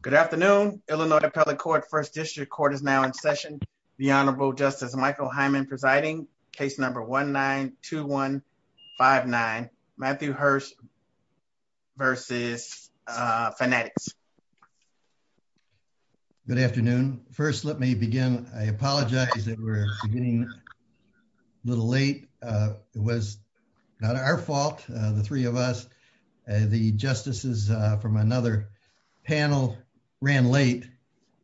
Good afternoon. Illinois Appellate Court, First District Court is now in session. The Honorable Justice Michael Hyman presiding. Case number 1-9-2-1-5-9. Matthew Hirst versus Fanatics. Good afternoon. First, let me begin. I apologize that we're beginning a little late. It was not our fault, the three of us. The justices from another panel ran late,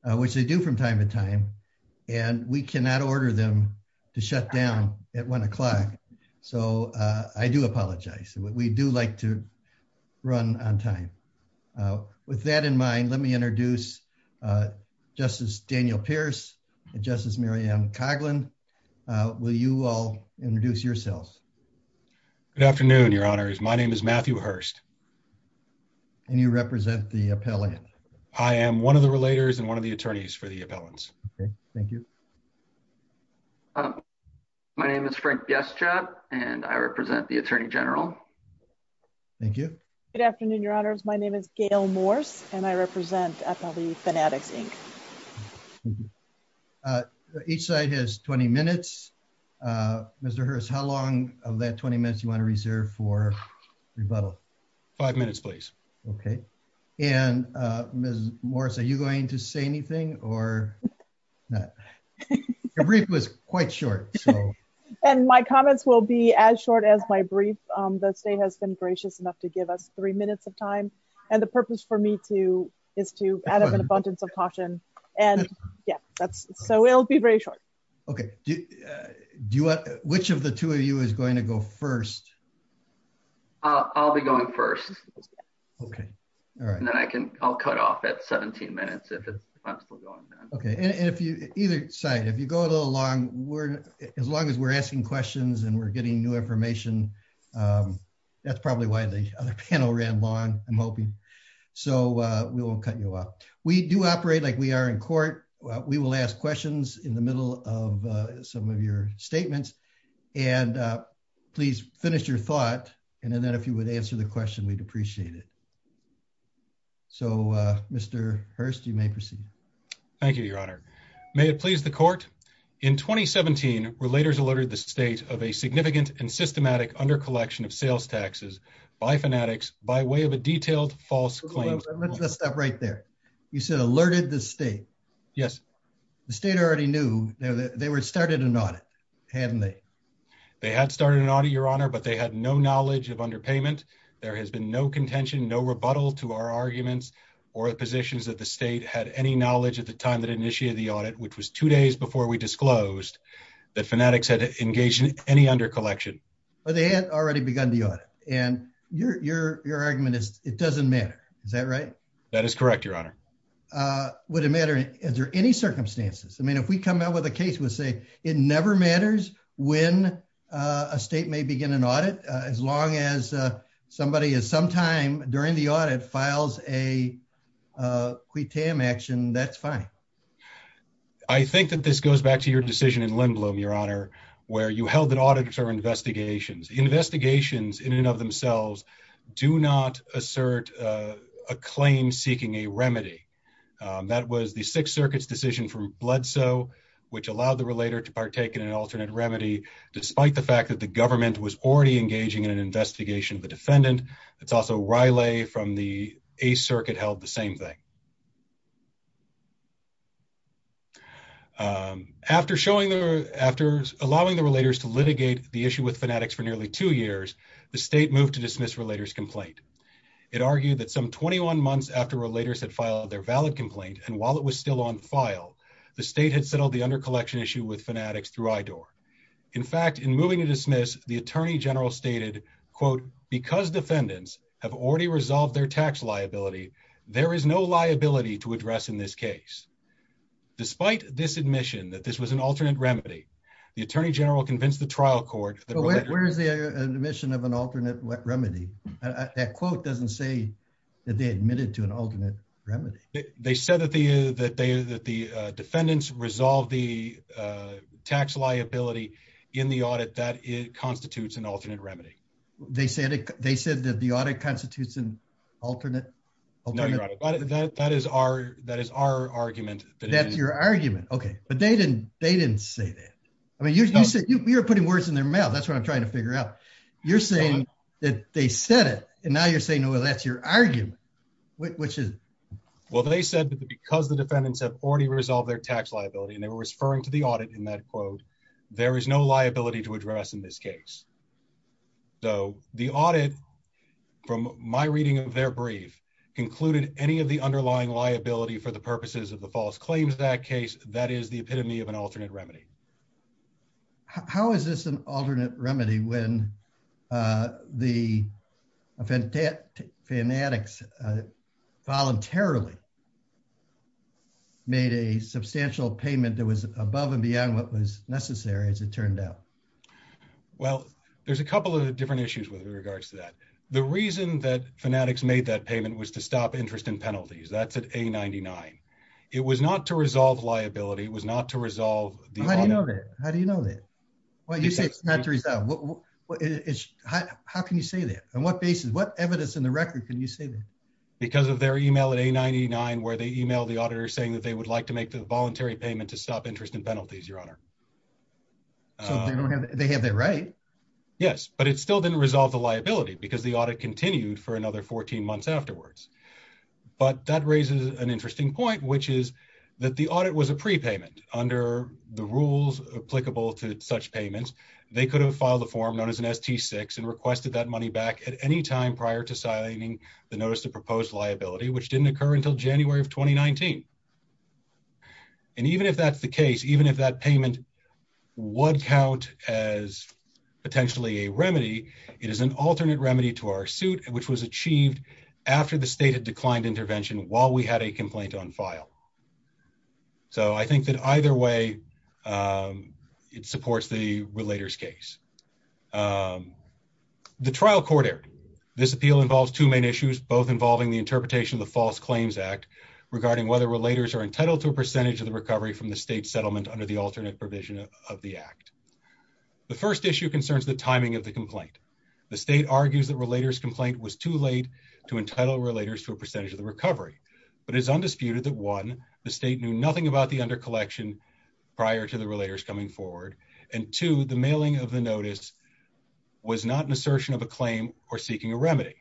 which they do from time to time, and we cannot order them to shut down at one o'clock. So I do apologize. We do like to run on time. With that in mind, let me introduce Justice Daniel Pierce and Justice Mary Ann Good afternoon, Your Honors. My name is Matthew Hirst. And you represent the appellant. I am one of the relators and one of the attorneys for the appellants. Okay, thank you. My name is Frank Biestrab, and I represent the Attorney General. Thank you. Good afternoon, Your Honors. My name is Gail Morse, and I represent Appellate Fanatics, Inc. Thank you. Each side has 20 minutes. Mr. Hirst, how long of that 20 minutes do you want to reserve for rebuttal? Five minutes, please. Okay. And Ms. Morse, are you going to say anything or not? Your brief was quite short. And my comments will be as short as my brief. The state has been gracious enough to give us three minutes of time, and the purpose for me to is to add an abundance of caution. And yeah, so it'll be very short. Okay. Which of the two of you is going to go first? I'll be going first. Okay. All right. And then I'll cut off at 17 minutes if I'm still going. Okay. And either side, if you go a little long, as long as we're asking questions and we're getting new information, that's probably why the other panel ran long, I'm hoping. So we won't cut you off. We do operate like we are in court. We will ask questions in the middle of some of your statements. And please finish your thought. And then if you would answer the question, we'd appreciate it. So, Mr. Hirst, you may proceed. Thank you, Your Honor. May it please the court. In 2017, relators alerted the state of a significant and systematic under-collection of sales taxes by Fanatics by way of a detailed false claim. Let's stop right there. You said alerted the state. Yes. The state already knew they had started an audit, hadn't they? They had started an audit, Your Honor, but they had no knowledge of underpayment. There has been no contention, no rebuttal to our arguments or positions that the state had any knowledge at the time that initiated the audit, which was two days before we disclosed that Fanatics had engaged in any under-collection. But they had already begun the audit. And your argument is it doesn't matter. Is that right? That is correct, Your Honor. Would it matter? Is there any circumstances? I mean, if we come out with a case, we'll say it never matters when a state may begin an audit as long as somebody is sometime during the audit files a tam action, that's fine. I think that this goes back to your decision in Lindblom, Your Honor, where you held an audit for investigations. Investigations in and of themselves do not assert a claim seeking a remedy. That was the Sixth Circuit's decision from Bledsoe, which allowed the relator to partake in an alternate remedy, despite the fact that the government was already engaging in an investigation of the defendant. It's also Riley from the East Circuit held the same thing. After allowing the relators to litigate the issue with Fanatics for nearly two years, the state moved to dismiss relator's complaint. It argued that some 21 months after relators had filed their valid complaint, and while it was still on file, the state had settled the under-collection issue with Fanatics through IDOR. In fact, in moving to dismiss, the Attorney General stated, quote, because defendants have already resolved their tax liability, there is no liability to address in this case. Despite this admission that this was an alternate remedy, the Attorney General convinced the trial court that... Where is the admission of an alternate remedy? That quote doesn't say that they admitted to an alternate remedy. They said that the defendants resolved the tax liability in the audit, that it constitutes an alternate remedy. They said that the audit constitutes an alternate? No, Your Honor, but that is our argument. That's your argument, okay. But they didn't say that. I mean, you're putting words in their mouth. That's what I'm trying to figure out. You're saying that they said it, and now you're saying, well, that's your argument, which is... Well, they said that because the defendants have already resolved their tax liability, and they were referring to the audit in that quote, there is no liability to address in this case. So the audit, from my reading of their brief, concluded any of the underlying liability for the purposes of the false claims of that case, that is the epitome of an alternate remedy. How is this an alternate remedy when the fanatics voluntarily made a substantial payment that was above and beyond what was necessary, as it turned out? Well, there's a couple of different issues with regards to that. The reason that fanatics made that payment was to stop interest in penalties. That's at A99. It was not to resolve liability. It was not to resolve the audit. How do you know that? Well, you say it's not to resolve. How can you say that? On what basis, what evidence in the record can you say that? Because of their email at A99, where they emailed the auditor saying that they would like to make the voluntary payment to stop interest in penalties, Your Honor. So they have that right. Yes, but it still didn't resolve the liability because the audit continued for another 14 months afterwards. But that raises an interesting point, which is that the audit was a prepayment under the rules applicable to such payments. They could have filed a form known as an ST-6 and requested that money back at any time prior to signing the notice to propose liability, which didn't occur until January of 2019. And even if that's the case, even if that payment would count as potentially a remedy, it is an alternate remedy to our suit, which was achieved after the state had declined intervention while we had a complaint on file. So I think that either way, it supports the relator's case. The trial court error. This appeal involves two main issues, both involving the interpretation of the False Claims Act regarding whether relators are entitled to a percentage of the recovery from the state settlement under the alternate provision of the act. The first issue concerns the timing of the complaint. The state argues that relator's complaint was too late to entitle relators to a percentage of the recovery. But it's undisputed that one, the state knew nothing about the undercollection prior to the relators coming forward. And two, the mailing of the notice was not an assertion of a claim or seeking a remedy.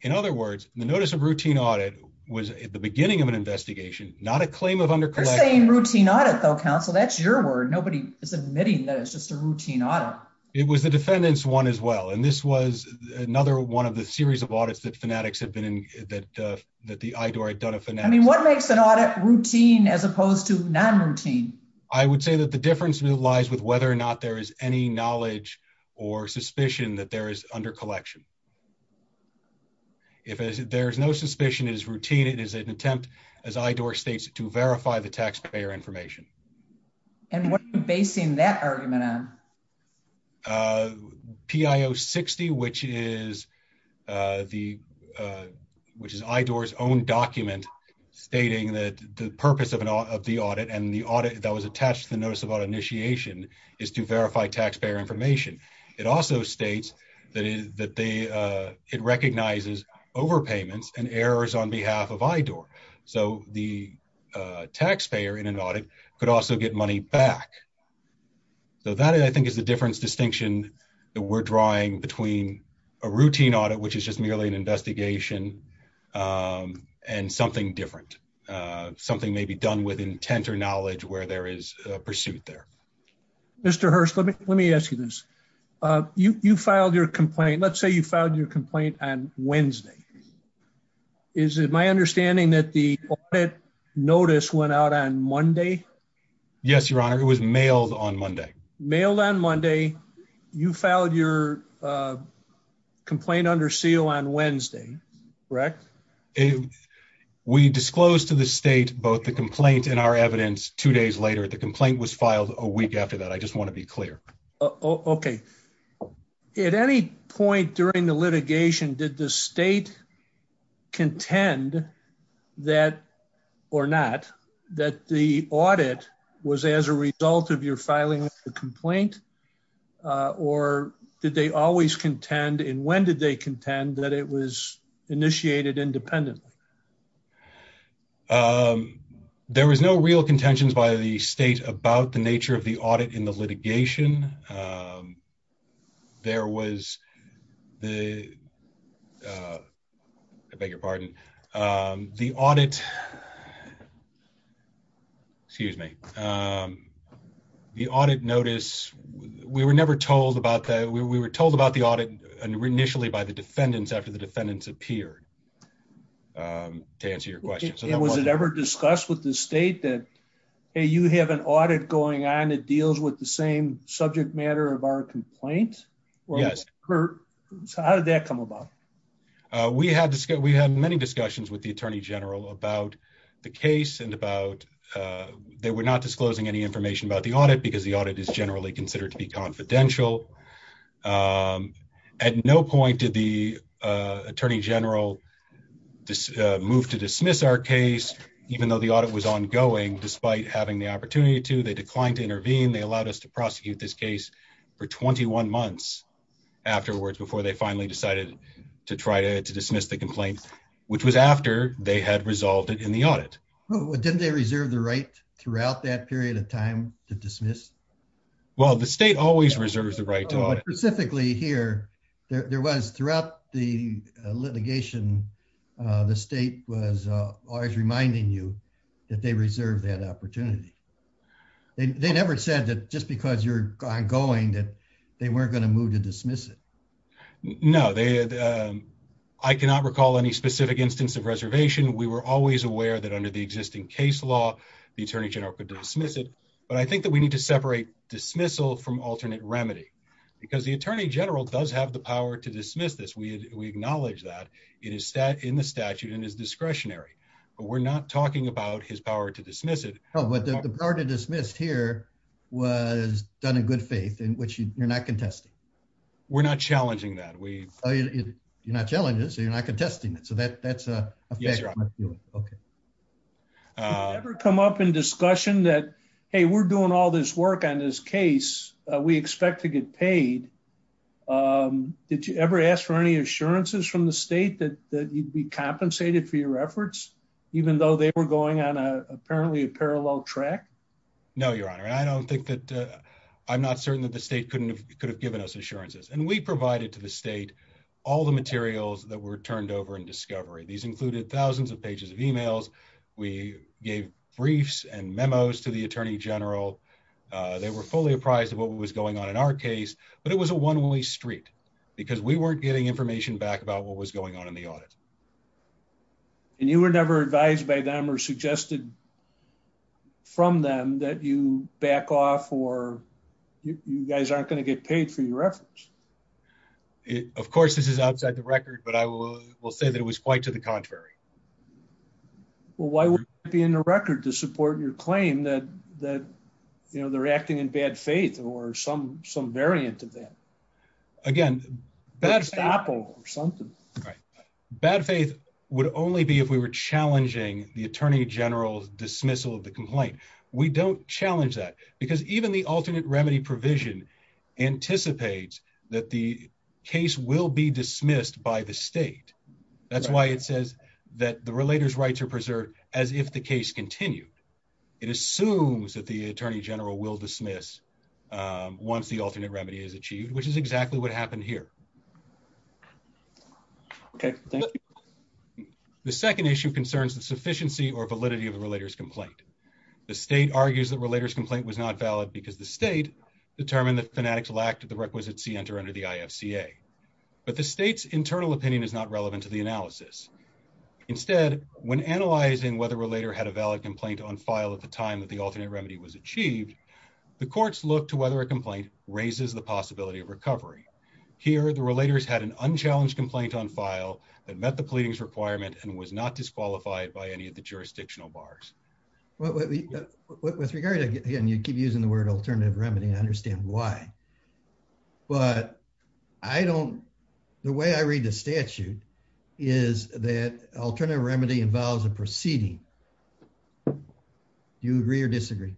In other words, the notice of routine audit was at the beginning of an investigation, not a claim of undercollection. You're saying routine audit though, counsel. That's your word. Nobody is admitting that it's just a routine audit. It was the defendant's one as well. And this was another one of the series of fanatics that the IDOR had done. I mean, what makes an audit routine as opposed to non-routine? I would say that the difference lies with whether or not there is any knowledge or suspicion that there is undercollection. If there's no suspicion, it is routine. It is an attempt, as IDOR states, to verify the taxpayer information. And what are you basing that argument on? PIO 60, which is IDOR's own document stating that the purpose of the audit and the audit that was attached to the notice of audit initiation is to verify taxpayer information. It also states that it recognizes overpayments and errors on behalf of IDOR. So the taxpayer in an audit could also get money back. So that, I think, is the difference distinction that we're drawing between a routine audit, which is just merely an investigation, and something different. Something may be done with intent or knowledge where there is a pursuit there. Mr. Hirst, let me ask you this. You filed your complaint. Let's say you filed your complaint on Wednesday. Is it my understanding that the audit notice went out on Monday? Yes, Your Honor. It was mailed on Monday. Mailed on Monday. You filed your complaint under seal on Wednesday, correct? We disclosed to the state both the complaint and our evidence two days later. The complaint was filed a week after that. I just want to be clear. Okay. At any point during the litigation, did the state contend that or not that the audit was as a result of your filing of the complaint? Or did they always contend, and when did they contend, that it was initiated independently? There was no real contentions by the state about the nature of the audit in the litigation. I beg your pardon. The audit notice, we were told about the audit initially by the defendants after the defendants appeared, to answer your question. And was it ever discussed with the state that, hey, you have an audit going on that deals with the same subject matter of our complaint? How did that come about? We had many discussions with the attorney general about the case and about, they were not disclosing any information about the audit because the audit is generally considered to be confidential. At no point did the attorney general move to dismiss our case, even though audit was ongoing, despite having the opportunity to. They declined to intervene. They allowed us to prosecute this case for 21 months afterwards, before they finally decided to try to dismiss the complaint, which was after they had resolved it in the audit. Didn't they reserve the right throughout that period of time to dismiss? Well, the state always reserves the right to audit. Specifically here, there was throughout the litigation, the state was always reminding you that they reserved that opportunity. They never said that just because you're ongoing, that they weren't going to move to dismiss it. No, I cannot recall any specific instance of reservation. We were always aware that under the existing case law, the attorney general could dismiss it. But I think that we need to separate dismissal from alternate remedy, because the attorney general does have the power to dismiss this. We acknowledge that in the statute and is discretionary, but we're not talking about his power to dismiss it. But the power to dismiss here was done in good faith, in which you're not contesting. We're not challenging that. You're not challenging it, so you're not contesting it. So that's a fact. Yes, Your Honor. Okay. Did you ever come up in discussion that, hey, we're doing all this work on this case, we expect to get paid? Did you ever ask for any assurances from the state that you'd be going on a apparently a parallel track? No, Your Honor. I don't think that I'm not certain that the state could have given us assurances. And we provided to the state all the materials that were turned over in discovery. These included thousands of pages of emails. We gave briefs and memos to the attorney general. They were fully apprised of what was going on in our case, but it was a one way street because we weren't getting information back about what was going on in the audit. And you were never advised by them or suggested from them that you back off or you guys aren't going to get paid for your efforts? Of course, this is outside the record, but I will say that it was quite to the contrary. Well, why would it be in the record to support your claim that, you know, they're acting in bad faith or some variant of that? Again, bad faith. Bad example or something. Right. Bad faith would only be if we were challenging the attorney general's dismissal of the complaint. We don't challenge that because even the alternate remedy provision anticipates that the case will be dismissed by the state. That's why it says that the relator's rights are preserved as if the case continued. It assumes that the attorney general will dismiss once the alternate remedy is achieved, which is exactly what happened here. Okay. The second issue concerns the sufficiency or validity of the relator's complaint. The state argues that relator's complaint was not valid because the state determined the fanatical act of the requisite C enter under the IFCA. But the state's internal opinion is not relevant to the analysis. Instead, when analyzing whether a relator had a valid complaint on file at the time that the alternate remedy was achieved, the courts look to whether a complaint raises the possibility of recovery. Here, the relators had an unchallenged complaint on file that met the pleadings requirement and was not disqualified by any of the jurisdictional bars. Well, with regard to, again, you keep using the word alternative remedy, I understand why. The way I read the statute is that alternative remedy involves a proceeding. Do you agree or disagree?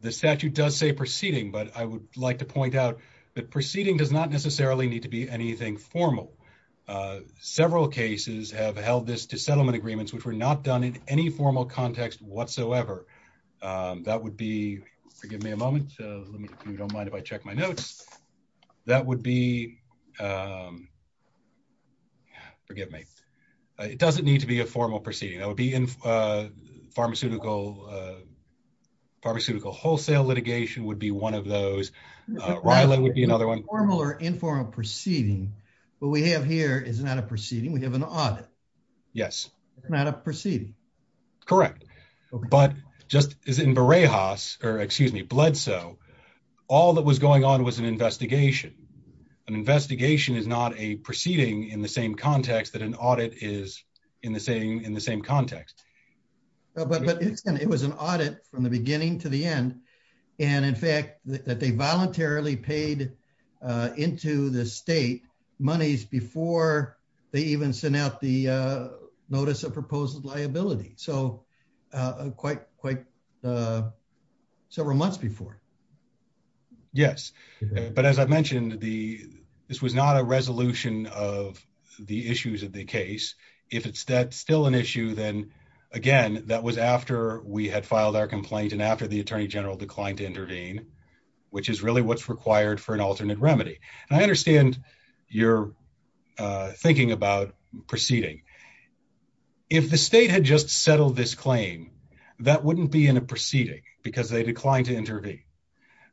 The statute does say proceeding, but I would like to point out that proceeding does not necessarily need to be anything formal. Several cases have held this to settlement agreements which were not done in any formal context whatsoever. That would be, forgive me a moment, if you don't mind if I check my notes. That would be, forgive me, it doesn't need to be a formal proceeding. It would be in pharmaceutical wholesale litigation would be one of those. RILA would be another one. Formal or informal proceeding. What we have here is not a proceeding. We have an audit. Yes. It's not a proceeding. Correct. But just as in Berejas, or excuse me, Bledsoe, all that was going on was an investigation. An investigation is not a proceeding in the same context that an audit is in the same context. But it was an audit from the beginning to the end. And in fact, that they voluntarily paid into the state monies before they even sent out the notice of proposed liability. So quite several months before. Yes. But as I mentioned, this was not a resolution of the issues of the case. If it's still an issue, then again, that was after we had filed our complaint and after the Attorney General declined to intervene, which is really what's required for an alternate remedy. And I understand you're thinking about proceeding. If the state had just settled this claim, that wouldn't be in a proceeding because they declined to intervene.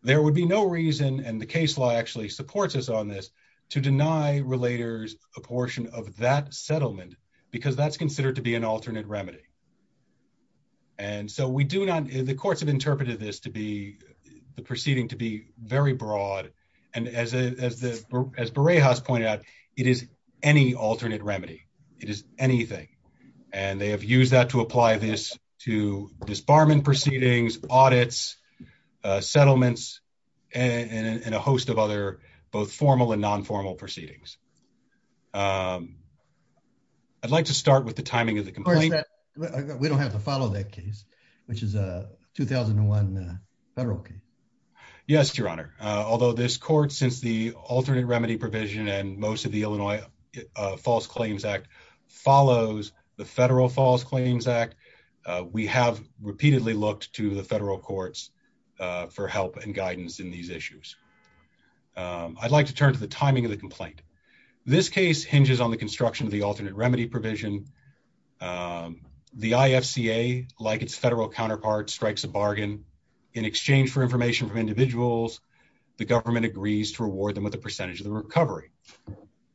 There would be no reason, and the case law actually supports us on this, to deny relators a portion of that settlement because that's considered to be an alternate remedy. And so we do not, the courts have interpreted this to be, the proceeding to be very broad. And as Berejas pointed out, it is any alternate remedy. It is anything. And they have used that to apply this to disbarment proceedings, audits, settlements, and a host of other both formal and non-formal proceedings. I'd like to start with the timing of the complaint. We don't have to follow that case, which is a 2001 federal case. Yes, Your Honor. Although this court, since the alternate remedy provision and most of the Illinois False Claims Act follows the Federal False Claims Act, we have repeatedly looked to the federal courts for help and guidance in these issues. I'd like to turn to the timing of the complaint. This case hinges on the construction of the alternate remedy provision. The IFCA, like its federal counterpart, strikes a bargain. In exchange for information from individuals, the government agrees to reward them with a percentage of the recovery.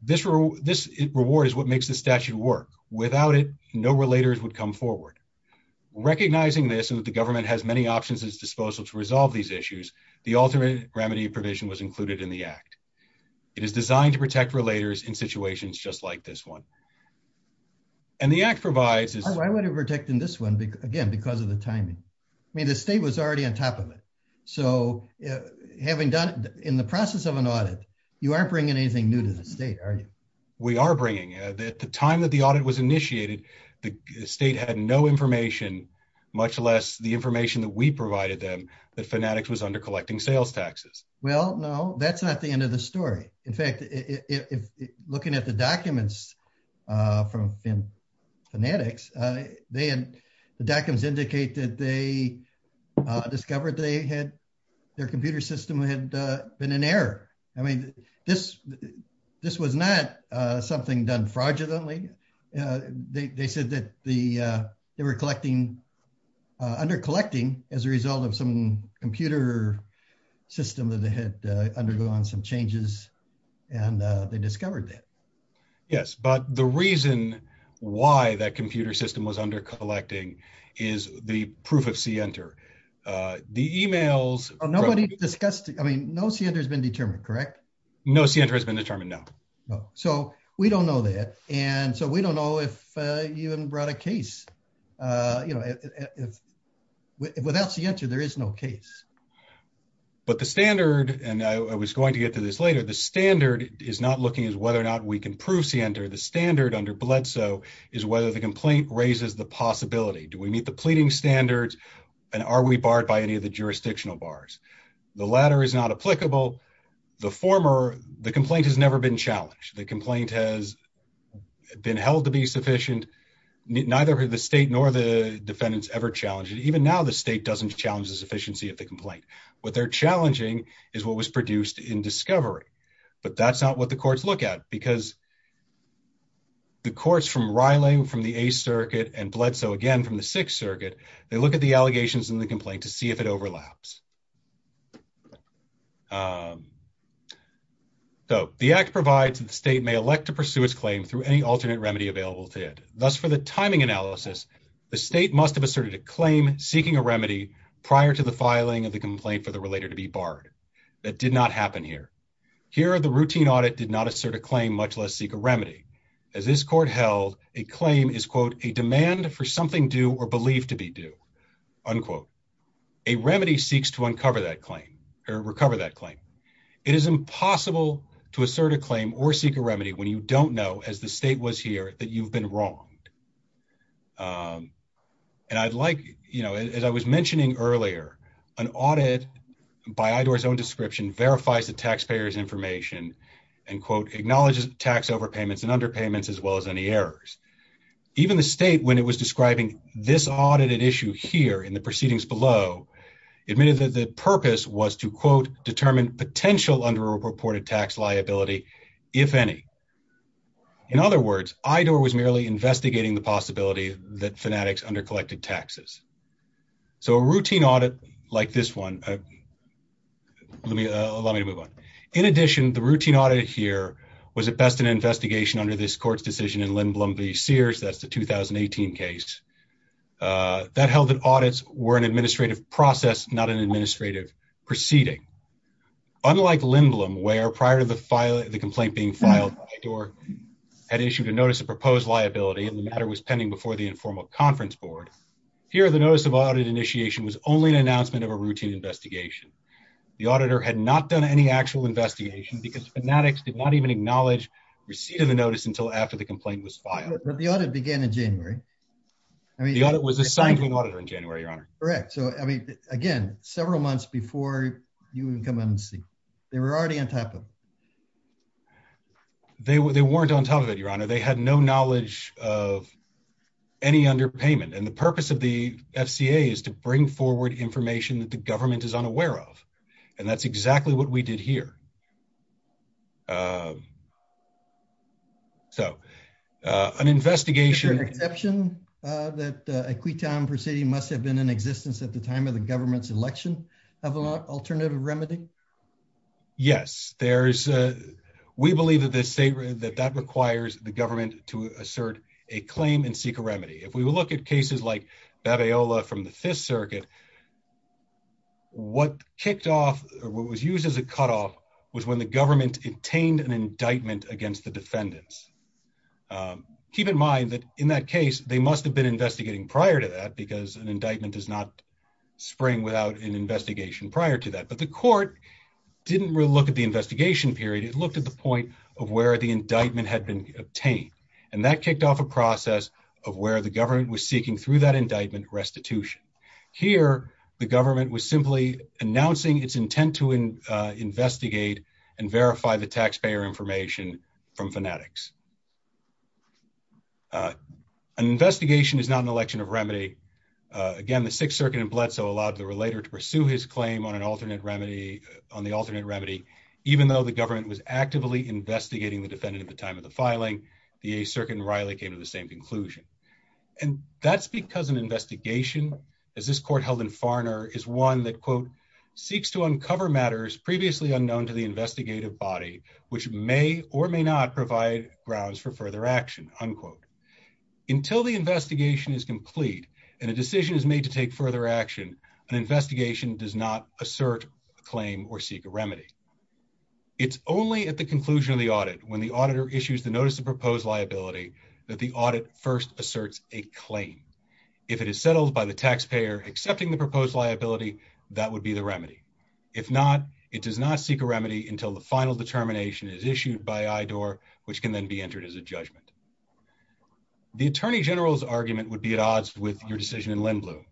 This reward is what makes the statute work. Without it, no relators would come forward. Recognizing this and that the government has many options at its disposal to resolve these issues, the alternate remedy provision was included in the act. It is designed to protect relators in situations just like this one. Why would it protect in this one? Again, because of the timing. I mean, the state was already on top of it. So, having done it in the process of an audit, you aren't bringing anything new to the state, are you? We are bringing it. At the time that the audit was initiated, the state had no information, much less the information that we provided them, that Fanatics was under collecting sales taxes. Well, no, that's not the end of the story. In fact, looking at the documents from Fanatics, the documents indicate that they discovered their computer system had been in error. I mean, this was not something done fraudulently. They said that they were under collecting as a result of some computer system that had undergone some changes, and they discovered that. Yes, but the reason why that computer system was under collecting is the proof of CNTR. The emails... Nobody discussed it. I mean, no CNTR has been determined, correct? No CNTR has been determined, no. So, we don't know that. And so, we don't know if you even brought a case. Without CNTR, there is no case. But the standard, and I was going to get to this later, the standard is not looking at whether or not we can prove CNTR. The standard under Bledsoe is whether the complaint raises the possibility. Do we meet the pleading standards, and are we barred by any of the jurisdictional bars? The latter is not applicable. The former... The complaint has never been challenged. The complaint has been held to be sufficient. Neither the state nor the defendants ever challenged it. What they're challenging is what was produced in discovery. But that's not what the courts look at, because the courts from Reiling from the Eighth Circuit and Bledsoe again from the Sixth Circuit, they look at the allegations in the complaint to see if it overlaps. So, the act provides that the state may elect to pursue its claim through any alternate remedy available to it. Thus, for the timing analysis, the state must have asserted a claim seeking a remedy prior to the filing of the complaint for the relator to be barred. That did not happen here. Here, the routine audit did not assert a claim, much less seek a remedy. As this court held, a claim is, quote, a demand for something due or believed to be due, unquote. A remedy seeks to uncover that claim or recover that claim. It is impossible to assert a claim or seek a remedy when you don't know, as the state was here, that you've been wronged. And I'd like, you know, as I was mentioning earlier, an audit by IDOR's own description verifies the taxpayer's information and, quote, acknowledges tax overpayments and underpayments as well as any errors. Even the state, when it was describing this audited issue here in the proceedings below, admitted that the purpose was to, quote, determine potential underreported tax liability, if any. In other words, IDOR was merely investigating the possibility that fanatics undercollected taxes. So a routine audit like this one, let me, allow me to move on. In addition, the routine audit here was at best an investigation under this court's decision in Lindblom v. Sears, that's the 2018 case, that held that audits were an administrative process, not an administrative proceeding. Unlike Lindblom, where prior to the file, the complaint being filed, IDOR had issued a notice of proposed liability and the matter was pending before the informal conference board. Here, the notice of audit initiation was only an announcement of a routine investigation. The auditor had not done any actual investigation because fanatics did not even acknowledge receipt of the notice until after the complaint was filed. But the audit began in January. Correct. So, I mean, again, several months before you can come in and see. They were already on top of it. They were, they weren't on top of it, your honor. They had no knowledge of any underpayment. And the purpose of the FCA is to bring forward information that the government is unaware of. And that's exactly what we did here. So, an investigation. Is there an exception that a acquittal proceeding must have been in existence at the time of the government's election of an alternative remedy? Yes, there is. We believe that that requires the government to assert a claim and seek a remedy. If we look at cases like Babayola from the Fifth Circuit, what kicked off, what was used as a cutoff was when the government obtained an indictment against the defendants. Keep in mind that in that case, they must have been investigating prior to that because an indictment does not spring without an investigation prior to that. But the court didn't really look at the investigation period. It looked at the point of where the indictment had been obtained. And that kicked off a process of where the government was seeking through that indictment restitution. Here, the government was simply announcing its intent to investigate and verify the taxpayer information from fanatics. An investigation is not an election of remedy. Again, the Sixth Circuit in Bledsoe allowed the relator to pursue his claim on the alternate remedy, even though the government was actively investigating the defendant at the time of the filing. The Eighth Circuit and Riley came to the same conclusion. And that's because an investigation, as this court held in Farner, is one that, quote, previously unknown to the investigative body, which may or may not provide grounds for further action, unquote. Until the investigation is complete and a decision is made to take further action, an investigation does not assert a claim or seek a remedy. It's only at the conclusion of the audit, when the auditor issues the notice of proposed liability, that the audit first asserts a claim. If it is settled by the taxpayer accepting the proposed liability, that would be the remedy. If not, it does not seek a remedy until the final determination is issued by IDOR, which can then be entered as a judgment. The attorney general's argument would be at odds with your decision in Lindblom.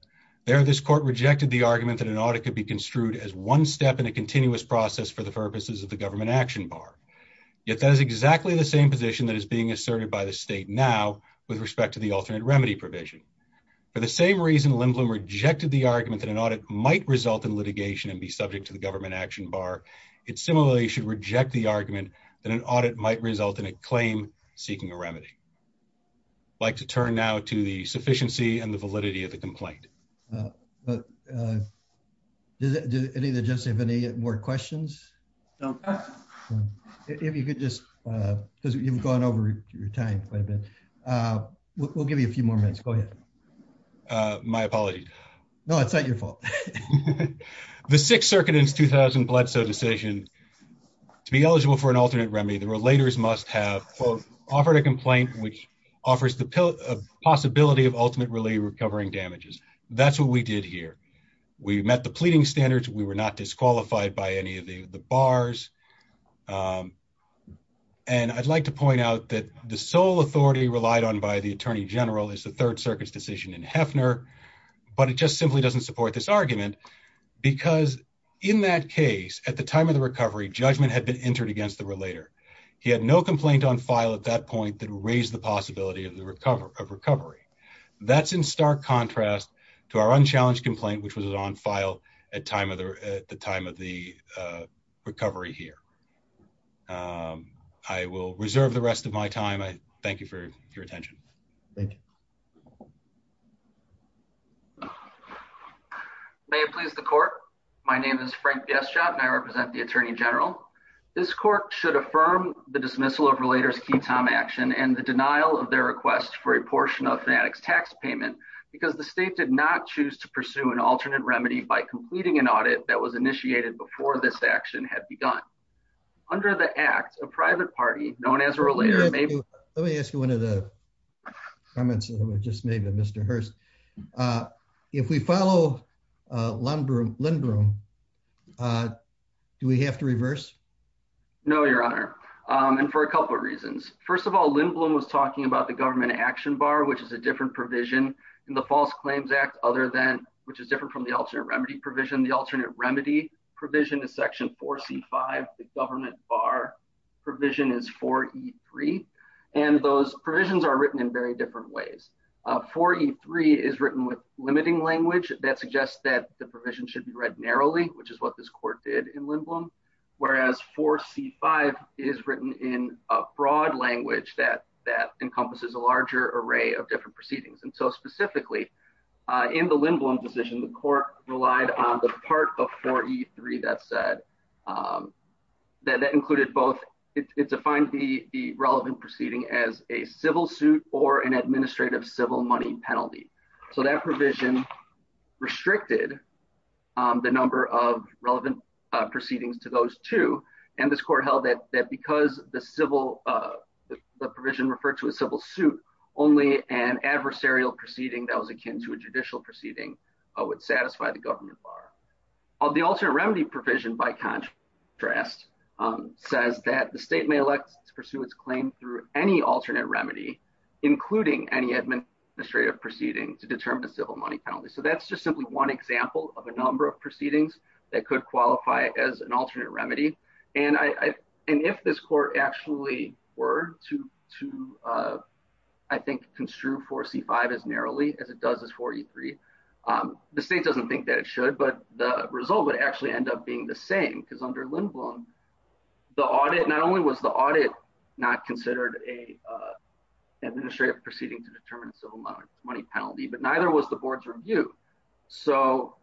There, this court rejected the argument that an audit could be construed as one step in a continuous process for the purposes of the government action bar. Yet that is exactly the same position that is being asserted by the state now with respect to the alternate remedy provision. For the same reason, Lindblom rejected the argument that an audit might result in litigation and be subject to the government action bar. It similarly should reject the argument that an audit might result in a claim seeking a remedy. I'd like to turn now to the sufficiency and the validity of the complaint. But does any of the judges have any more questions? No. If you could just, because you've gone over your time quite a bit, we'll give you a few more minutes. Go ahead. My apologies. No, it's not your fault. The Sixth Circuit in its 2000 Bledsoe decision, to be eligible for an alternate remedy, the relators must have, quote, offered a complaint which offers the possibility of ultimate relief recovering damages. That's what we did here. We met the pleading standards. We were not disqualified by any of the bars. And I'd like to point out that the sole authority relied on by the attorney general is the Third Circuit's decision in Hefner. But it just simply doesn't support this argument, because in that case, at the time of the recovery, judgment had been entered against the relator. He had no complaint on file at that point that raised the possibility of recovery. That's in stark contrast to our unchallenged complaint, which was on file at the time of the recovery here. I will reserve the rest of my time. I thank you for your attention. Thank you. May it please the court. My name is Frank Bieschoff, and I represent the attorney general. This court should affirm the dismissal of Relator's Key Tom action and the denial of their request for a portion of Fanatic's tax payment because the state did not choose to pursue an alternate remedy by completing an audit that was initiated before this action had begun. Under the Act, a private party known as a Relator may- Let me ask you one of the comments that was just made by Mr. Hearst. If we follow Lindblom, do we have to reverse? No, Your Honor, and for a couple of reasons. First of all, Lindblom was talking about the government action bar, which is a different provision in the False Claims Act other than, which is different from the alternate remedy provision. The alternate remedy provision is Section 4C5. The government bar provision is 4E3, and those provisions are written in very different ways. 4E3 is written with limiting language that suggests that the provision should be read narrowly, which is what this court did in Lindblom, whereas 4C5 is written in a broad language that encompasses a larger array of different proceedings. Specifically, in the Lindblom decision, the court relied on the part of 4E3 that said- that included both- it defined the relevant proceeding as a civil suit or an administrative civil money penalty. So that provision restricted the number of relevant proceedings to those two, and this that was akin to a judicial proceeding would satisfy the government bar. The alternate remedy provision, by contrast, says that the state may elect to pursue its claim through any alternate remedy, including any administrative proceeding, to determine the civil money penalty. So that's just simply one example of a number of proceedings that could qualify as an alternate as it does as 4E3. The state doesn't think that it should, but the result would actually end up being the same, because under Lindblom, the audit- not only was the audit not considered an administrative proceeding to determine a civil money penalty, but neither was the board's review. So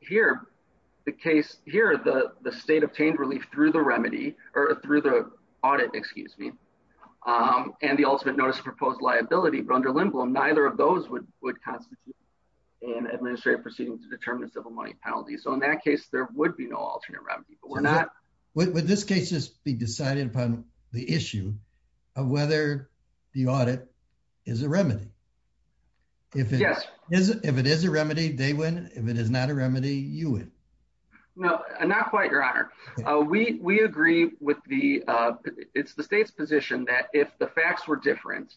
here, the case- here, the state obtained relief through the remedy- or through the audit, excuse me, and the ultimate notice of proposed liability, but under Lindblom, neither of those would constitute an administrative proceeding to determine a civil money penalty. So in that case, there would be no alternate remedy, but we're not- Would this case just be decided upon the issue of whether the audit is a remedy? Yes. If it is a remedy, they win. If it is not a remedy, you win. No, not quite, Your Honor. We agree with the- it's the state's position that if the facts were different,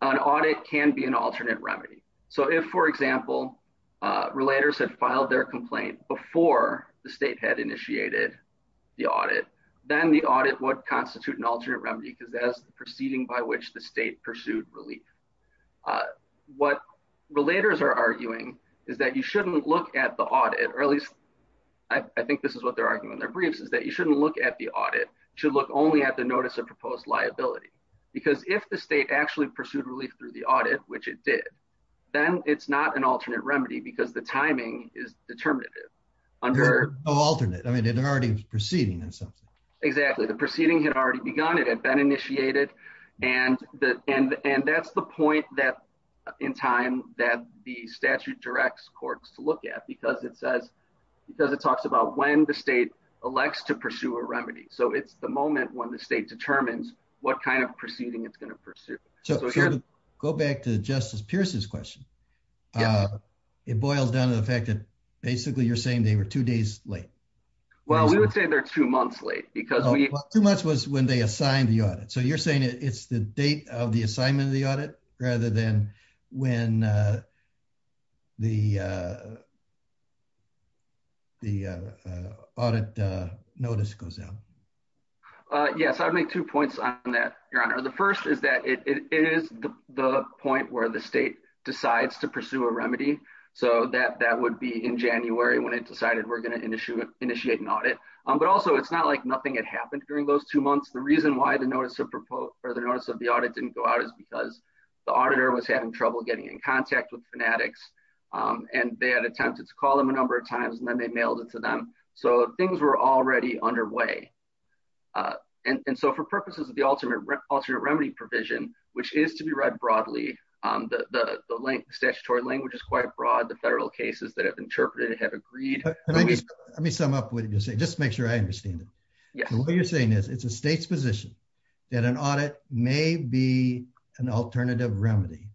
an audit can be an alternate remedy. So if, for example, relators had filed their complaint before the state had initiated the audit, then the audit would constitute an alternate remedy, because that is the proceeding by which the state pursued relief. What relators are arguing is that you shouldn't look at the audit, or at least I think this is what they're arguing in their briefs, is that you shouldn't look at the audit. You should look only at the notice of proposed liability, because if the state actually pursued relief through the audit, which it did, then it's not an alternate remedy, because the timing is determinative. There's no alternate. I mean, it already was proceeding in some sense. Exactly. The proceeding had already begun. It had been initiated, and that's the point that, in time, that the statute directs courts to look at, because it says- because it talks about when the state elects to pursue a remedy. So it's the moment when the state determines what kind of proceeding it's going to pursue. So to go back to Justice Pierce's question, it boils down to the fact that basically you're saying they were two days late. Well, we would say they're two months late, because we- Two months was when they assigned the audit. So you're saying it's the date of the assignment of the audit, rather than when the audit notice goes out? Yes. I would make two points on that, Your Honor. The first is that it is the point where the state decides to pursue a remedy. So that would be in January, when it decided we're going to initiate an audit. But also, it's not like nothing had happened during those two months. The reason why the notice of the audit didn't go out is because the auditor was having trouble getting in contact with Fanatics, and they had attempted to call them a number of times, and then they mailed it to them. So things were already underway. And so for purposes of the alternate remedy provision, which is to be read broadly, the statutory language is quite broad. The federal cases that have interpreted it have agreed. Let me sum up what you're saying, just to make sure I understand it. What you're saying is, it's a state's position that an audit may be an alternative remedy,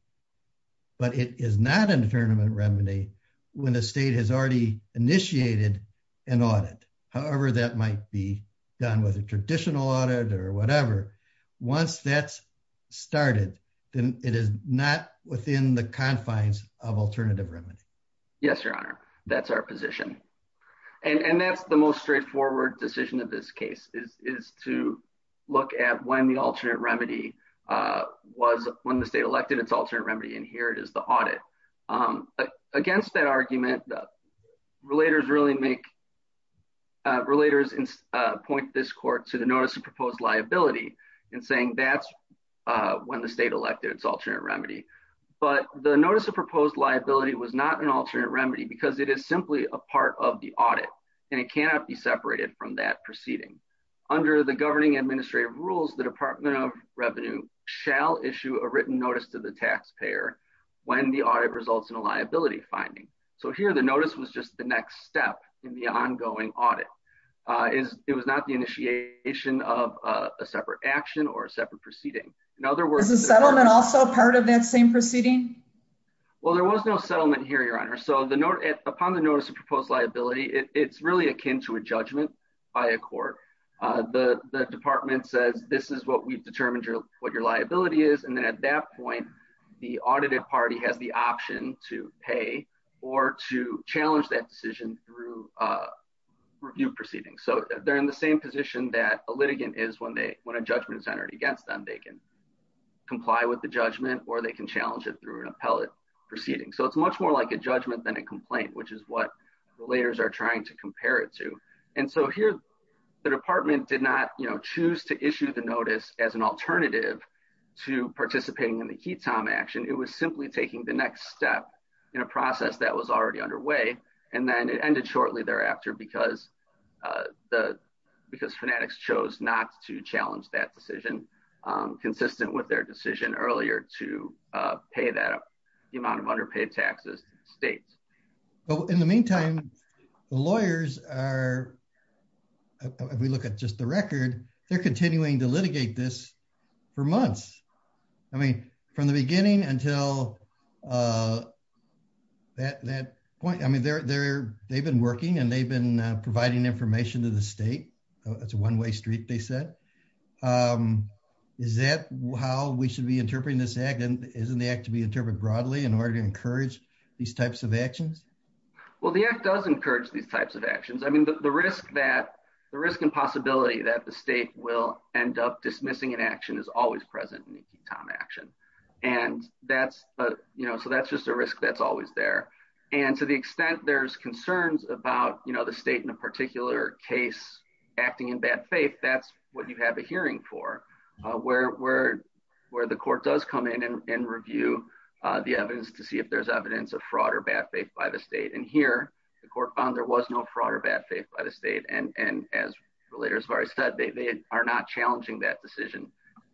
but it is not an alternative remedy when the state has already initiated an audit. However, that might be done with a traditional audit or whatever. Once that's started, then it is not within the confines of alternative remedy. Yes, Your Honor. That's our position. And that's the most straightforward decision of this case, is to look at when the alternate remedy was, when the state elected its alternate remedy, and here it is the audit. But against that argument, the relators really make, relators point this court to the notice of proposed liability, and saying that's when the state elected its alternate remedy. But the notice of proposed liability was not an alternate remedy, because it is simply a part of the audit, and it cannot be separated from that proceeding. Under the governing administrative rules, the Department of Revenue shall issue a written notice to the taxpayer when the audit results in a liability finding. So here, the notice was just the next step in the ongoing audit. It was not the initiation of a separate action or a separate proceeding. In other words- Is the settlement also part of that same proceeding? Well, there was no settlement here, Your Honor. So upon the notice of proposed liability, it's really akin to a judgment by a court. The department says, this is what we've determined what your liability is, and then at that point, the audited party has the option to pay or to challenge that decision through a review proceeding. So they're in the same position that a litigant is when a judgment is entered against them. They can comply with the judgment, or they can challenge it through an appellate proceeding. So it's much more like a judgment than a complaint, which is what relators are trying to compare it to. And so here, the department did not choose to issue the notice as an alternative to participating in the HETOM action. It was simply taking the next step in a process that was already underway, and then it ended shortly thereafter because Fanatics chose not to challenge that decision, consistent with their decision earlier to pay that amount of underpaid taxes to the state. But in the meantime, the lawyers are, if we look at just the record, they're continuing to litigate this for months. I mean, from the beginning until that point, I mean, they've been working, and they've been providing information to the state. It's a one-way street, they said. Is that how we should be interpreting this act? Isn't the act to be interpreted broadly in order to encourage these types of actions? Well, the act does encourage these types of actions. I mean, the risk and possibility that the state will end up dismissing an action is always present in the HETOM action. So that's just a risk that's always there. And to the extent there's concerns about the state in a particular case acting in bad faith, that's what you have a hearing for, where the court does come in and review the evidence to see if there's evidence of fraud or bad faith by the state. And here, the court found there was no fraud or bad faith by the state. And as Relators of Ari said, they are not challenging that decision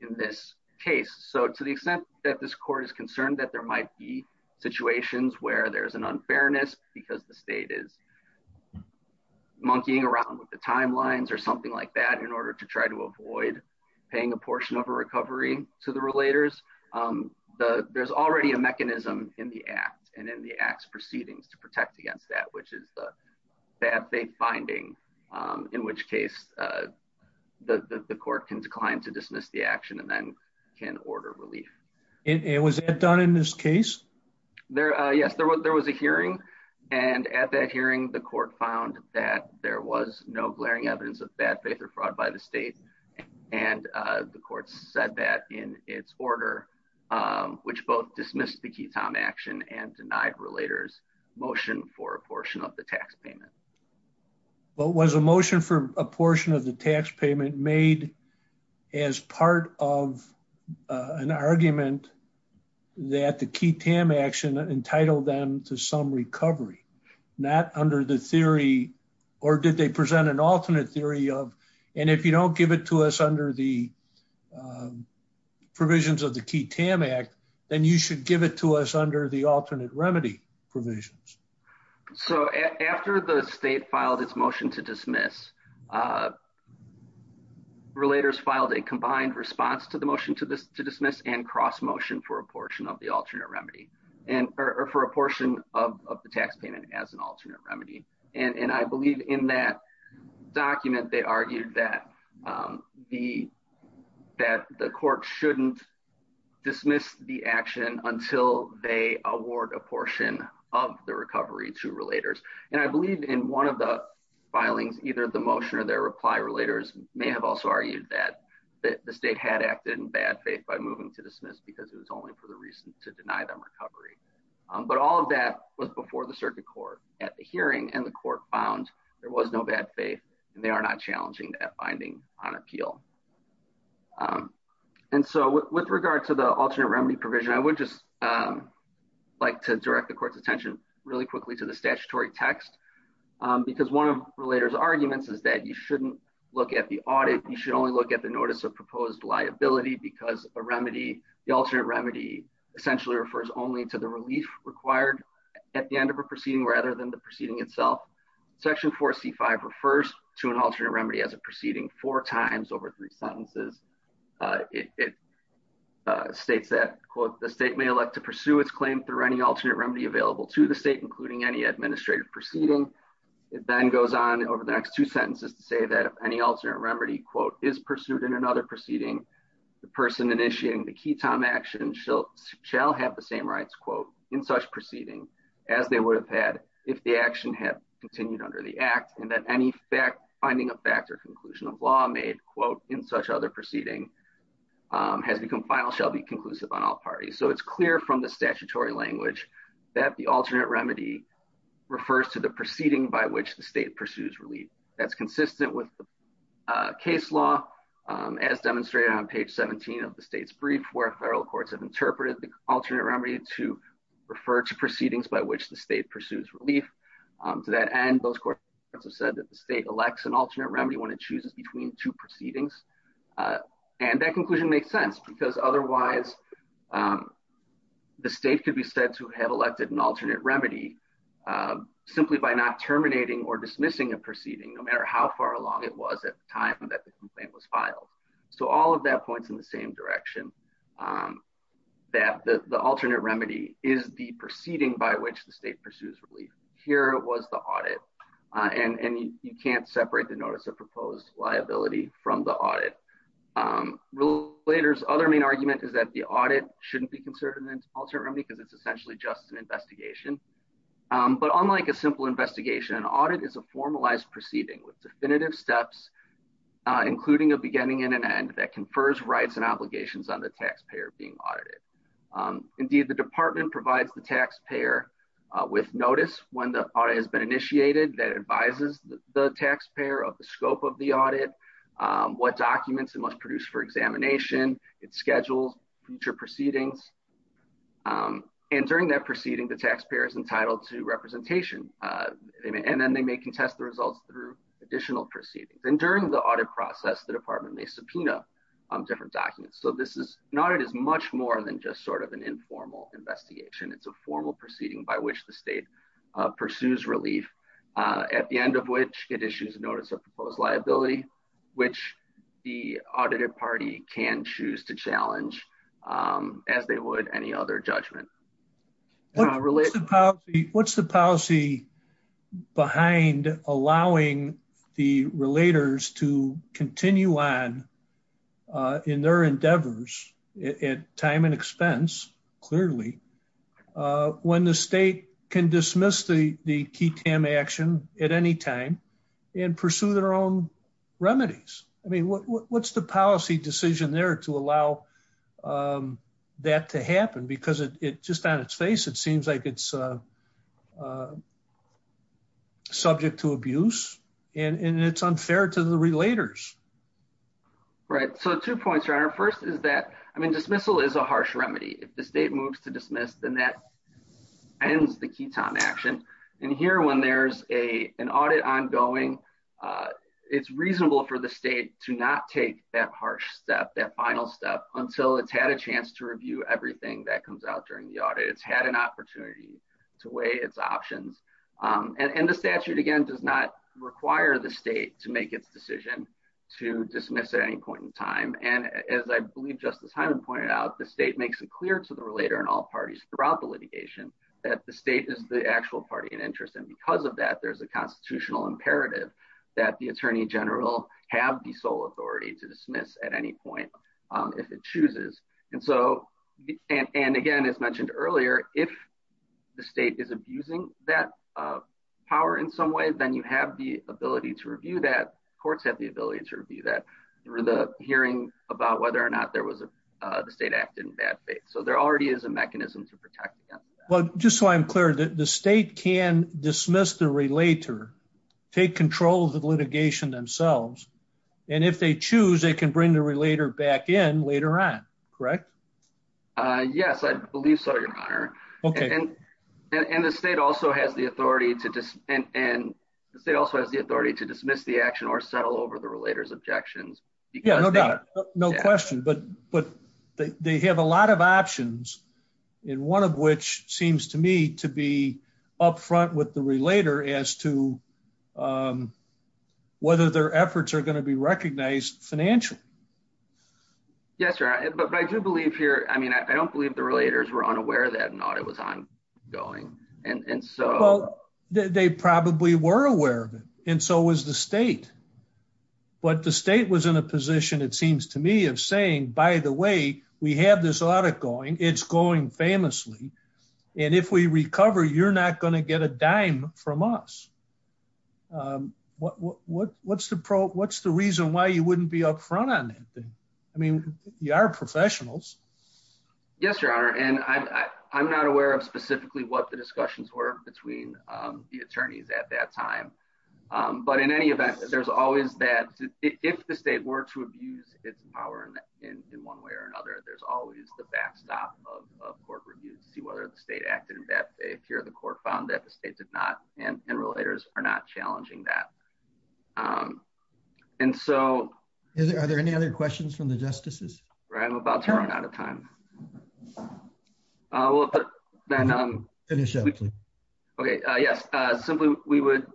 in this case. So to the extent that this court is concerned that there might be situations where there's an unfairness because the state is monkeying around with the timelines or something like that in order to try to avoid paying a portion of a recovery to the Relators, there's already a mechanism in the act and in the act's proceedings to protect against that, which is the bad faith finding, in which case the court can decline to dismiss the action and then can order relief. And was that done in this case? Yes, there was a hearing. And at that hearing, the court found that there was no glaring evidence of bad faith or fraud by the state. And the court said that in its order, which both dismissed the Keatom action and denied Relators' motion for a portion of the tax payment. But was a motion for a portion of the tax payment made as part of an argument that the not under the theory, or did they present an alternate theory of, and if you don't give it to us under the provisions of the Keatom Act, then you should give it to us under the alternate remedy provisions. So after the state filed its motion to dismiss, Relators filed a combined response to the motion to dismiss and cross motion for a portion of the alternate remedy, or for a portion of the tax payment as an alternate remedy. And I believe in that document, they argued that the court shouldn't dismiss the action until they award a portion of the recovery to Relators. And I believe in one of the filings, either the motion or their reply, Relators may have also argued that the state had acted in bad faith by moving to dismiss because it was only for the reason to deny them recovery. But all of that was before the circuit court at the hearing, and the court found there was no bad faith, and they are not challenging that finding on appeal. And so with regard to the alternate remedy provision, I would just like to direct the court's attention really quickly to the statutory text, because one of Relators' arguments is that you shouldn't look at the audit, you should only look at the notice of proposed liability because a remedy, the alternate remedy essentially refers only to the relief required at the end of a proceeding rather than the proceeding itself. Section 4C5 refers to an alternate remedy as a proceeding four times over three sentences. It states that, quote, the state may elect to pursue its claim through any alternate remedy available to the state, including any administrative proceeding. It then goes on over the next two sentences to say that if any alternate remedy, quote, is pursued in another proceeding, the person initiating the ketam action shall have the same rights, quote, in such proceeding as they would have had if the action had continued under the act, and that any finding of fact or conclusion of law made, quote, in such other proceeding has become final shall be conclusive on all parties. So it's clear from the statutory language that the alternate remedy refers to the proceeding by which the state pursues relief. That's consistent with the case law as demonstrated on page 17 of the state's brief where federal courts have interpreted the alternate remedy to refer to proceedings by which the state pursues relief. To that end, those courts have said that the state elects an alternate remedy when it chooses between two proceedings, and that conclusion makes sense because otherwise the state could be said to have elected an alternate remedy simply by not terminating or dismissing a matter how far along it was at the time that the complaint was filed. So all of that points in the same direction, that the alternate remedy is the proceeding by which the state pursues relief. Here was the audit, and you can't separate the notice of proposed liability from the audit. Relators' other main argument is that the audit shouldn't be considered an alternate remedy because it's essentially just an investigation. But unlike a simple investigation, an audit is a formalized proceeding with definitive steps, including a beginning and an end that confers rights and obligations on the taxpayer being audited. Indeed, the department provides the taxpayer with notice when the audit has been initiated that advises the taxpayer of the scope of the audit, what documents it must produce for examination, its schedule, future proceedings. And during that proceeding, the taxpayer is entitled to representation, and then they may contest the results through additional proceedings. And during the audit process, the department may subpoena different documents. So an audit is much more than just sort of an informal investigation. It's a formal proceeding by which the state pursues relief, at the end of which it issues a notice of proposed liability, which the audited party can choose to challenge as they would any other judgment. What's the policy behind allowing the relators to continue on in their endeavors at time and expense, clearly, when the state can dismiss the key TAM action at any time and pursue their own remedies? I mean, what's the policy decision there to allow that to happen? Because it just on its face, it seems like it's subject to abuse, and it's unfair to the relators. Right. So two points, your honor. First is that, I mean, dismissal is a harsh remedy. If the state moves to dismiss, then that ends the key TAM action. And here, when there's an audit ongoing, it's reasonable for the state to not take that harsh step, that final step, until it's had a chance to review everything that comes out during the audit. It's had an opportunity to weigh its options. And the statute, again, does not require the state to make its decision to dismiss at any point in time. And as I believe Justice Hyman pointed out, the state makes it clear to the relator and all parties throughout the litigation that the state is the actual party in interest. And because of that, there's a constitutional imperative that the attorney general have the sole authority to dismiss at any point if it chooses. And so, and again, as mentioned earlier, if the state is abusing that power in some way, then you have the ability to review that. Courts have the ability to review that through the hearing about whether or not the state acted in bad faith. So, there already is a mechanism to protect against that. Well, just so I'm clear, the state can dismiss the relator, take control of the litigation themselves, and if they choose, they can bring the relator back in later on, correct? Yes, I believe so, Your Honor. Okay. And the state also has the authority to dismiss the action or settle over the relator's objections. Yeah, no doubt. No question. But they have a lot of options, and one of which seems to me to be up front with the relator as to whether their efforts are going to be recognized financially. Yes, Your Honor, but I do believe here, I mean, I don't believe the relators were unaware that an audit was ongoing, and so... Well, they probably were aware of it, and so was the state. But the state was in a position, it seems to me, of saying, by the way, we have this audit going, it's going famously, and if we recover, you're not going to get a dime from us. What's the reason why you wouldn't be up front on that thing? I mean, you are professionals. Yes, Your Honor, and I'm not aware of specifically what the discussions were between the attorneys at that time. But in any event, there's always that, if the state were to abuse its power in one way or another, there's always the backstop of court reviews to see whether the state acted in bad faith. Here, the court found that the state did not, and relators are not challenging that. And so... Are there any other questions from the justices? Right, I'm about to run out of time. We'll put that on... Finish up, please. Okay, yes. Simply, we would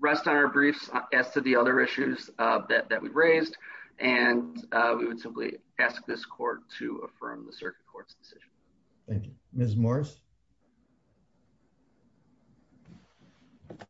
rest on our briefs as to the other issues that we raised, and we would simply ask this court to affirm the circuit court's decision. Thank you. Ms. Morris?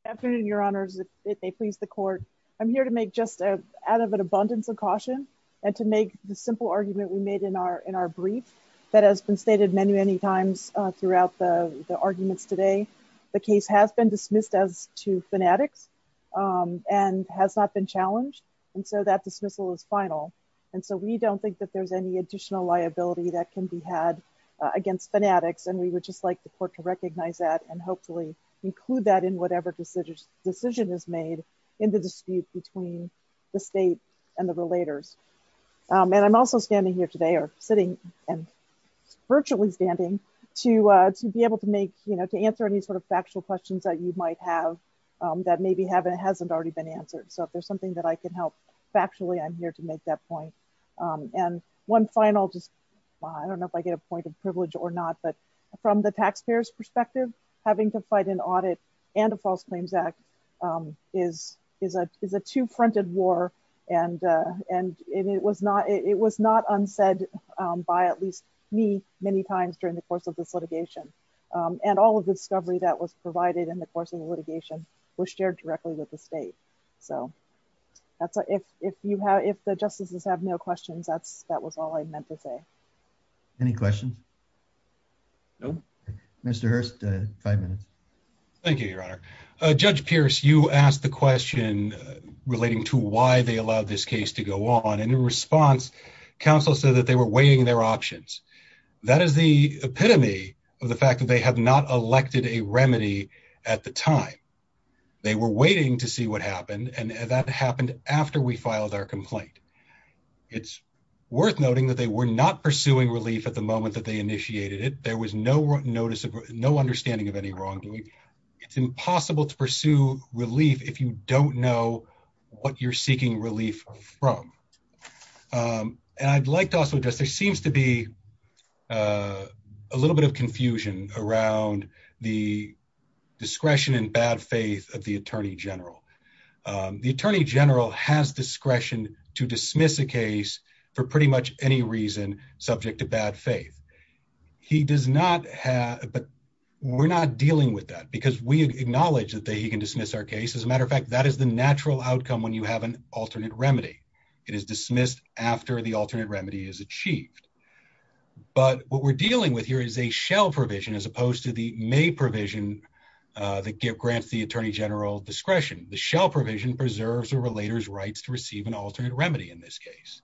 Afternoon, Your Honors, if they please the court. I'm here to make just out of an abundance of caution, and to make the simple argument we made in our brief that has been stated many, many times throughout the arguments today, the case has been dismissed as to fanatics, and has not been challenged. And so that dismissal is final. And so we don't think that there's any additional liability that can be had against fanatics, and we would just like the court to recognize that and hopefully include that in whatever decision is made in the dispute between the state and the relators. And I'm also standing here today, or sitting and virtually standing, to be able to answer any sort of factual questions that you might have that maybe hasn't already been answered. So if there's something that I can help factually, I'm here to make that point. And one final just, I don't know if I get a point of privilege or not, but from the taxpayers' perspective, having to fight an audit and a false claims act is a two-fronted and it was not unsaid by at least me many times during the course of this litigation. And all of the discovery that was provided in the course of the litigation was shared directly with the state. So if the justices have no questions, that was all I meant to say. Any questions? No. Thank you, Your Honor. Judge Pierce, you asked the question relating to why they allowed this case to go on. And in response, counsel said that they were weighing their options. That is the epitome of the fact that they have not elected a remedy at the time. They were waiting to see what happened. And that happened after we filed our complaint. It's worth noting that they were not pursuing relief at the moment that they initiated it. There was no notice of, no understanding of any wrongdoing. It's impossible to pursue relief if you don't know what you're seeking relief from. And I'd like to also address, there seems to be a little bit of confusion around the discretion and bad faith of the Attorney General. The Attorney General has discretion to dismiss a case for pretty much any reason subject to bad faith. He does not have, but we're not dealing with that because we acknowledge that he can dismiss our case. As a matter of fact, that is the natural outcome when you have an alternate remedy. It is dismissed after the alternate remedy is achieved. But what we're dealing with here is a shell provision as opposed to the may provision that grants the Attorney General discretion. The shell provision preserves a relator's rights to receive an alternate remedy in this case.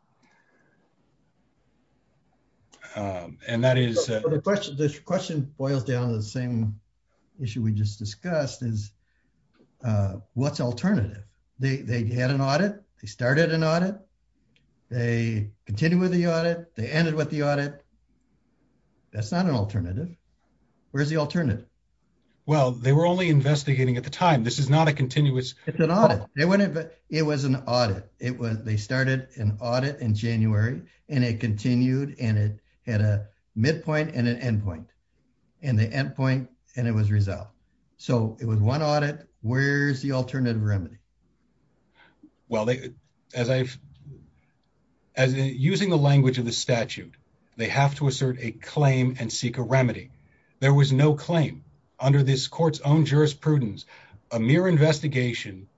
And that is- So the question boils down to the same issue we just discussed is, what's alternative? They had an audit. They started an audit. They continue with the audit. They ended with the audit. That's not an alternative. Where's the alternative? Well, they were only investigating at the time. This is not a continuous- It's an audit. It was an audit. They started an audit in January, and it continued, and it had a midpoint and an endpoint. And the endpoint, and it was resolved. So it was one audit. Where's the alternative remedy? Well, as I've- As using the language of the statute, they have to assert a claim and seek a remedy. There was no claim under this court's own jurisprudence. A mere investigation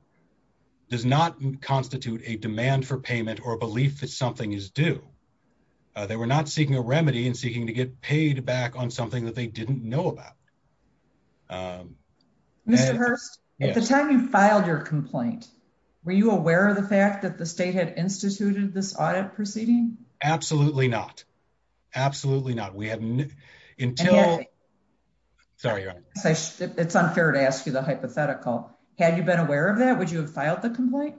does not constitute a demand for payment or a belief that something is due. They were not seeking a remedy and seeking to get paid back on something that they didn't know about. Mr. Hurst, at the time you filed your complaint, were you aware of the fact that the state had instituted this audit proceeding? Absolutely not. Absolutely not. We hadn't until- Sorry, Your Honor. It's unfair to ask you the hypothetical. Had you been aware of that, would you have filed the complaint?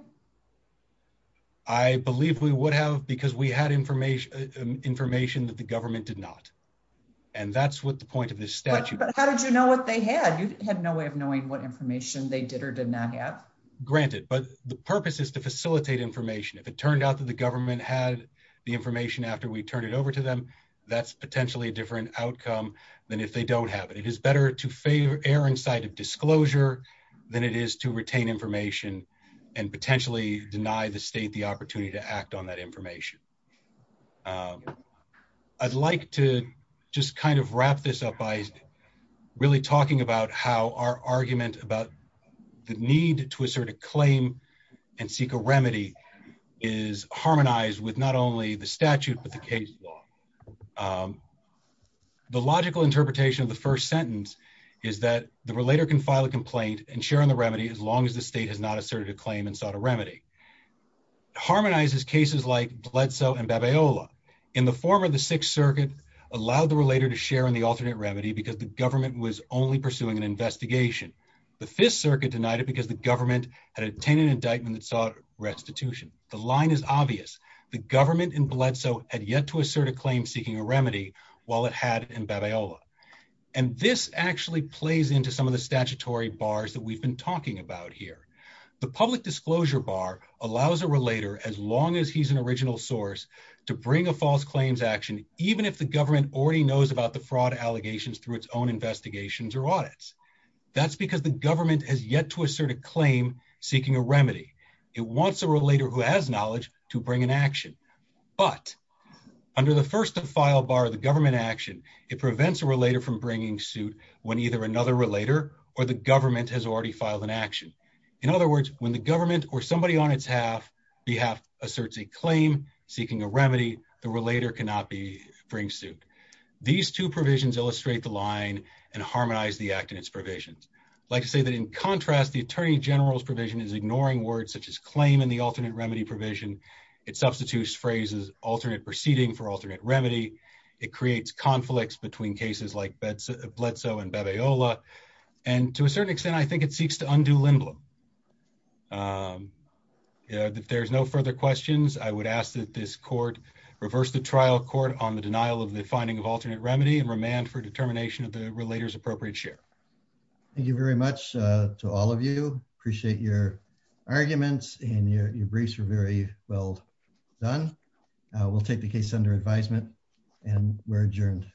I believe we would have because we had information that the government did not. And that's what the point of this statute- But how did you know what they had? You had no way of knowing what information they did or did not have. Granted. But the purpose is to facilitate information. If it turned out that the government had the information after we turned it over to them, that's potentially a different outcome than if they don't have it. It's better to err in sight of disclosure than it is to retain information and potentially deny the state the opportunity to act on that information. I'd like to just kind of wrap this up by really talking about how our argument about the need to assert a claim and seek a remedy is harmonized with not only the statute but the case law. Um, the logical interpretation of the first sentence is that the relator can file a complaint and share in the remedy as long as the state has not asserted a claim and sought a remedy. Harmonizes cases like Bledsoe and Babayola. In the former, the Sixth Circuit allowed the relator to share in the alternate remedy because the government was only pursuing an investigation. The Fifth Circuit denied it because the government had obtained an indictment that sought restitution. The line is obvious. The government in Bledsoe had yet to assert a claim seeking a remedy while it had in Babayola. And this actually plays into some of the statutory bars that we've been talking about here. The public disclosure bar allows a relator, as long as he's an original source, to bring a false claims action, even if the government already knows about the fraud allegations through its own investigations or audits. That's because the government has yet to assert a claim seeking a remedy. It wants a relator who has knowledge to bring an action. But under the first to file bar, the government action, it prevents a relator from bringing suit when either another relator or the government has already filed an action. In other words, when the government or somebody on its behalf asserts a claim seeking a remedy, the relator cannot bring suit. These two provisions illustrate the line and harmonize the act in its provisions. I'd like to say that in contrast, the Attorney General's provision is ignoring words such as claim in the alternate remedy provision. It substitutes phrases alternate proceeding for alternate remedy. It creates conflicts between cases like Bledsoe and Babayola. And to a certain extent, I think it seeks to undo Lindblom. If there's no further questions, I would ask that this court reverse the trial court on the denial of the finding of alternate remedy and remand for determination of the relator's appropriate share. Thank you very much to all of you. Appreciate your arguments and your briefs were very well done. We'll take the case under advisement and we're adjourned.